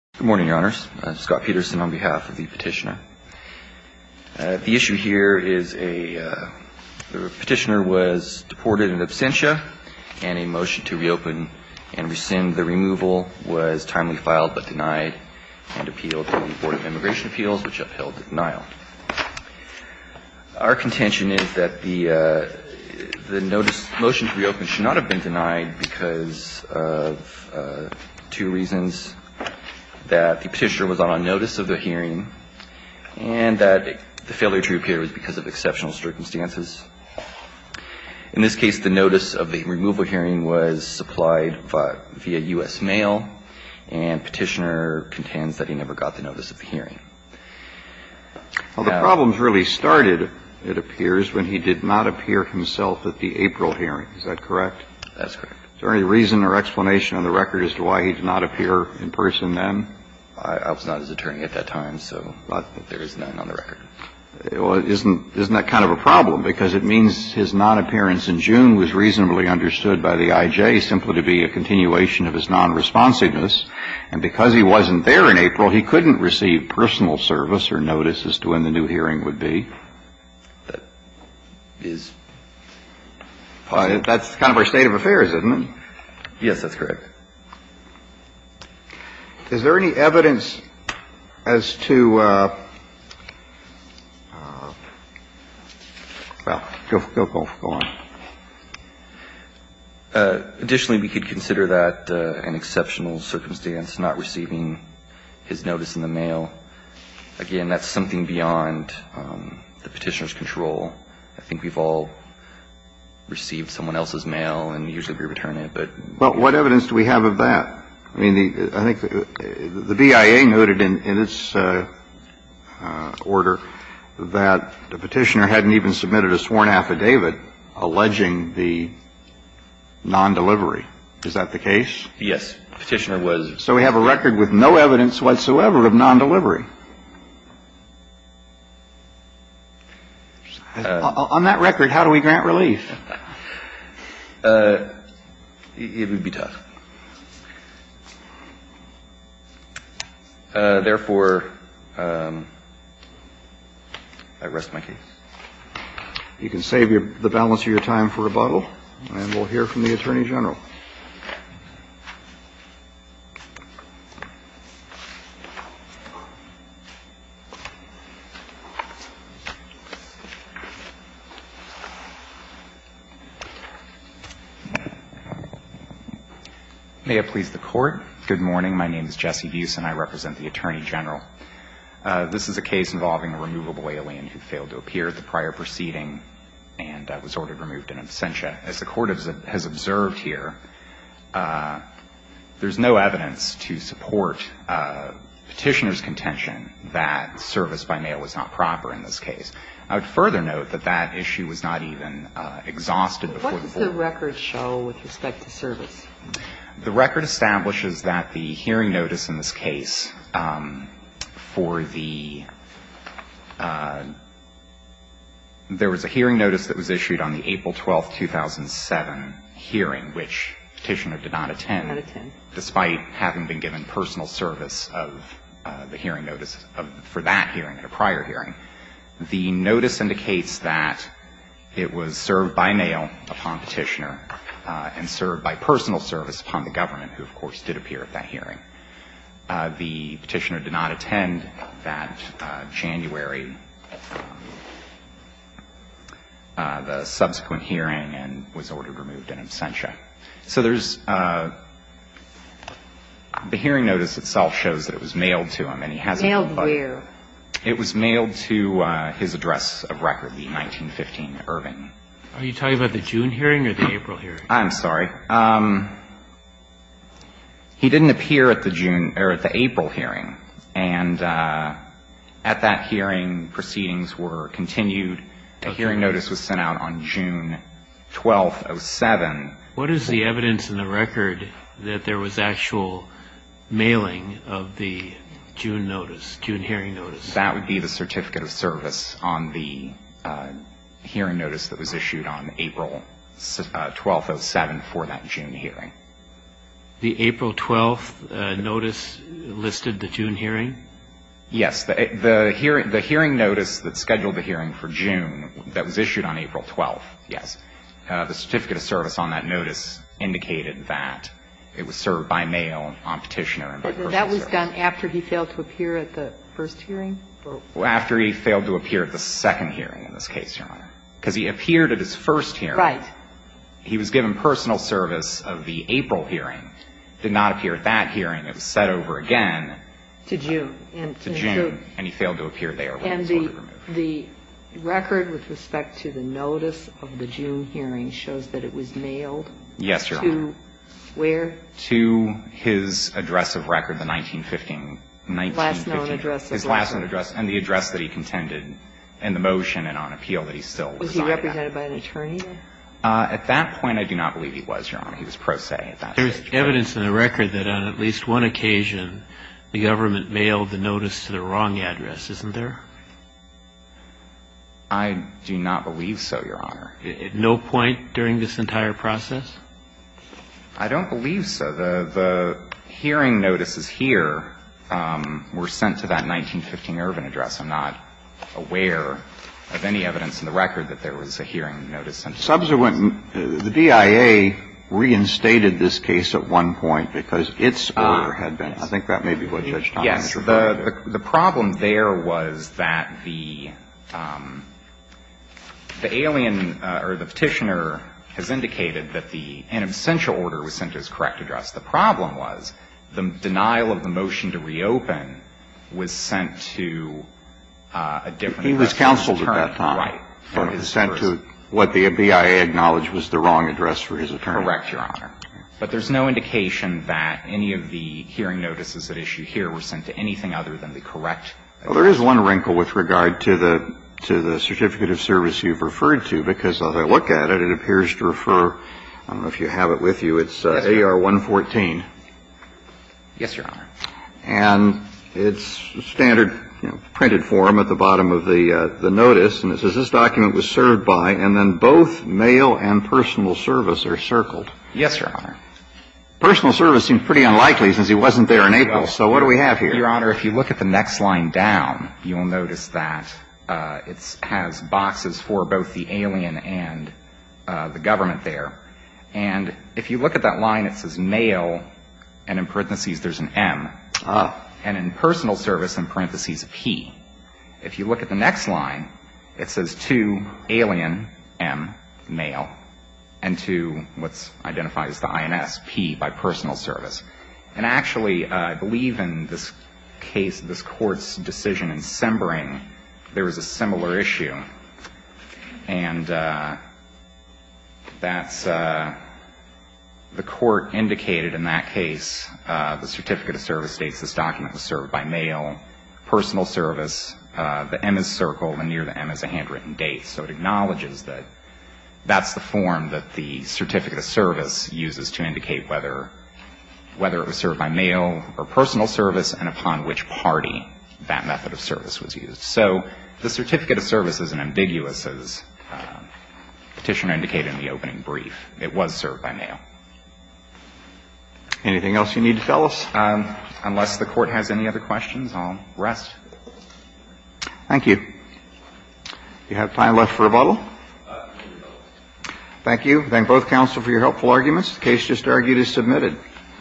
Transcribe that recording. Good morning, your honors. Scott Peterson on behalf of the petitioner. The issue here is a petitioner was deported in absentia and a motion to reopen and rescind the removal was timely filed but denied and appealed to the Board of Immigration Appeals which upheld the denial. Our contention is that the motion to reopen should not have been denied because of two reasons. That the petitioner was on notice of the hearing and that the failure to appear was because of exceptional circumstances. In this case, the notice of the removal hearing was supplied via U.S. mail and petitioner contends that he never got the notice of the hearing. Well, the problems really started, it appears, when he did not appear himself at the April hearing. Is that correct? That's correct. Is there any reason or explanation on the record as to why he did not appear in person then? I was not his attorney at that time, so I don't think there is none on the record. Well, isn't that kind of a problem because it means his non-appearance in June was reasonably understood by the I.J. simply to be a continuation of his non-responsiveness. And because he wasn't there in April, he couldn't receive personal service or notice as to when the new hearing would be. That's kind of our state of affairs, isn't it? Yes, that's correct. Is there any evidence as to, well, go on. Additionally, we could consider that an exceptional circumstance, not receiving his notice in the mail. Again, that's something beyond the Petitioner's control. I think we've all received someone else's mail, and usually we return it. But what evidence do we have of that? I mean, I think the BIA noted in its order that the Petitioner hadn't even submitted a sworn affidavit alleging the non-delivery. Is that the case? Yes. Petitioner was. So we have a record with no evidence whatsoever of non-delivery. On that record, how do we grant relief? It would be tough. Therefore, I rest my case. You can save the balance of your time for rebuttal. And we'll hear from the Attorney General. May it please the Court. Good morning. My name is Jesse Buse, and I represent the Attorney General. This is a case involving a removable alien who failed to appear at the prior proceeding and was ordered removed in absentia. that the Petitioner's contention was not proper. There's no evidence to support Petitioner's contention that service by mail was not proper in this case. I would further note that that issue was not even exhausted before the court. What does the record show with respect to service? The record establishes that the hearing notice in this case for the – there was a hearing notice that was issued on the April 12, 2007 hearing, which Petitioner did not attend despite having been given personal service of the hearing notice for that hearing at a prior hearing. The notice indicates that it was served by mail upon Petitioner and served by personal service upon the government, who, of course, did appear at that hearing. The Petitioner did not attend that January, the subsequent hearing, and was ordered removed in absentia. So there's – the hearing notice itself shows that it was mailed to him, and he hasn't – Mailed where? It was mailed to his address of record, the 1915 Irving. Are you talking about the June hearing or the April hearing? I'm sorry. He didn't appear at the June – or at the April hearing. And at that hearing, proceedings were continued. A hearing notice was sent out on June 12, 2007. What is the evidence in the record that there was actual mailing of the June notice, June hearing notice? That would be the certificate of service on the hearing notice that was issued on April 12, 2007 for that June hearing. The April 12 notice listed the June hearing? Yes. The hearing notice that scheduled the hearing for June that was issued on April 12, yes, the certificate of service on that notice indicated that it was served by mail on Petitioner and by personal service. And that was done after he failed to appear at the first hearing? After he failed to appear at the second hearing in this case, Your Honor. Because he appeared at his first hearing. Right. He was given personal service of the April hearing. Did not appear at that hearing. It was sent over again. To June. To June. And he failed to appear there. And the record with respect to the notice of the June hearing shows that it was mailed to where? To his address of record, the 1915, 1915. Last known address of record. His last known address and the address that he contended in the motion and on appeal that he still resided at. Was he represented by an attorney? At that point, I do not believe he was, Your Honor. He was pro se at that stage. There's evidence in the record that on at least one occasion the government mailed the notice to the wrong address, isn't there? I do not believe so, Your Honor. At no point during this entire process? I don't believe so. The hearing notices here were sent to that 1915 Irvin address. I'm not aware of any evidence in the record that there was a hearing notice sent to that address. Subsequent, the DIA reinstated this case at one point because its order had been The problem there was that the alien or the petitioner has indicated that the inessential order was sent to his correct address. The problem was the denial of the motion to reopen was sent to a different address than his attorney. He was counseled at that time. Right. Sent to what the DIA acknowledged was the wrong address for his attorney. Correct, Your Honor. But there's no indication that any of the hearing notices that issue here were sent to anything other than the correct address. Well, there is one wrinkle with regard to the certificate of service you've referred to, because as I look at it, it appears to refer, I don't know if you have it with you, it's AR 114. Yes, Your Honor. And it's standard printed form at the bottom of the notice, and it says this document was served by, and then both mail and personal service are circled. Yes, Your Honor. Personal service seems pretty unlikely since he wasn't there in April. So what do we have here? Your Honor, if you look at the next line down, you will notice that it has boxes for both the alien and the government there. And if you look at that line, it says mail, and in parentheses there's an M. Ah. And in personal service, in parentheses, P. If you look at the next line, it says to alien, M, mail. And to what's identified as the INS, P, by personal service. And actually, I believe in this case, this Court's decision in Sembering, there was a similar issue. And that's the Court indicated in that case the certificate of service states this document was served by mail, personal service, the M is circled, and near the M is a handwritten date. So it acknowledges that that's the form that the certificate of service uses to indicate whether it was served by mail or personal service and upon which party that method of service was used. So the certificate of service is as ambiguous as Petitioner indicated in the opening brief. It was served by mail. Anything else you need to tell us? Unless the Court has any other questions, I'll rest. Thank you. You have time left for rebuttal. Thank you. Thank both counsel for your helpful arguments. The case just argued is submitted.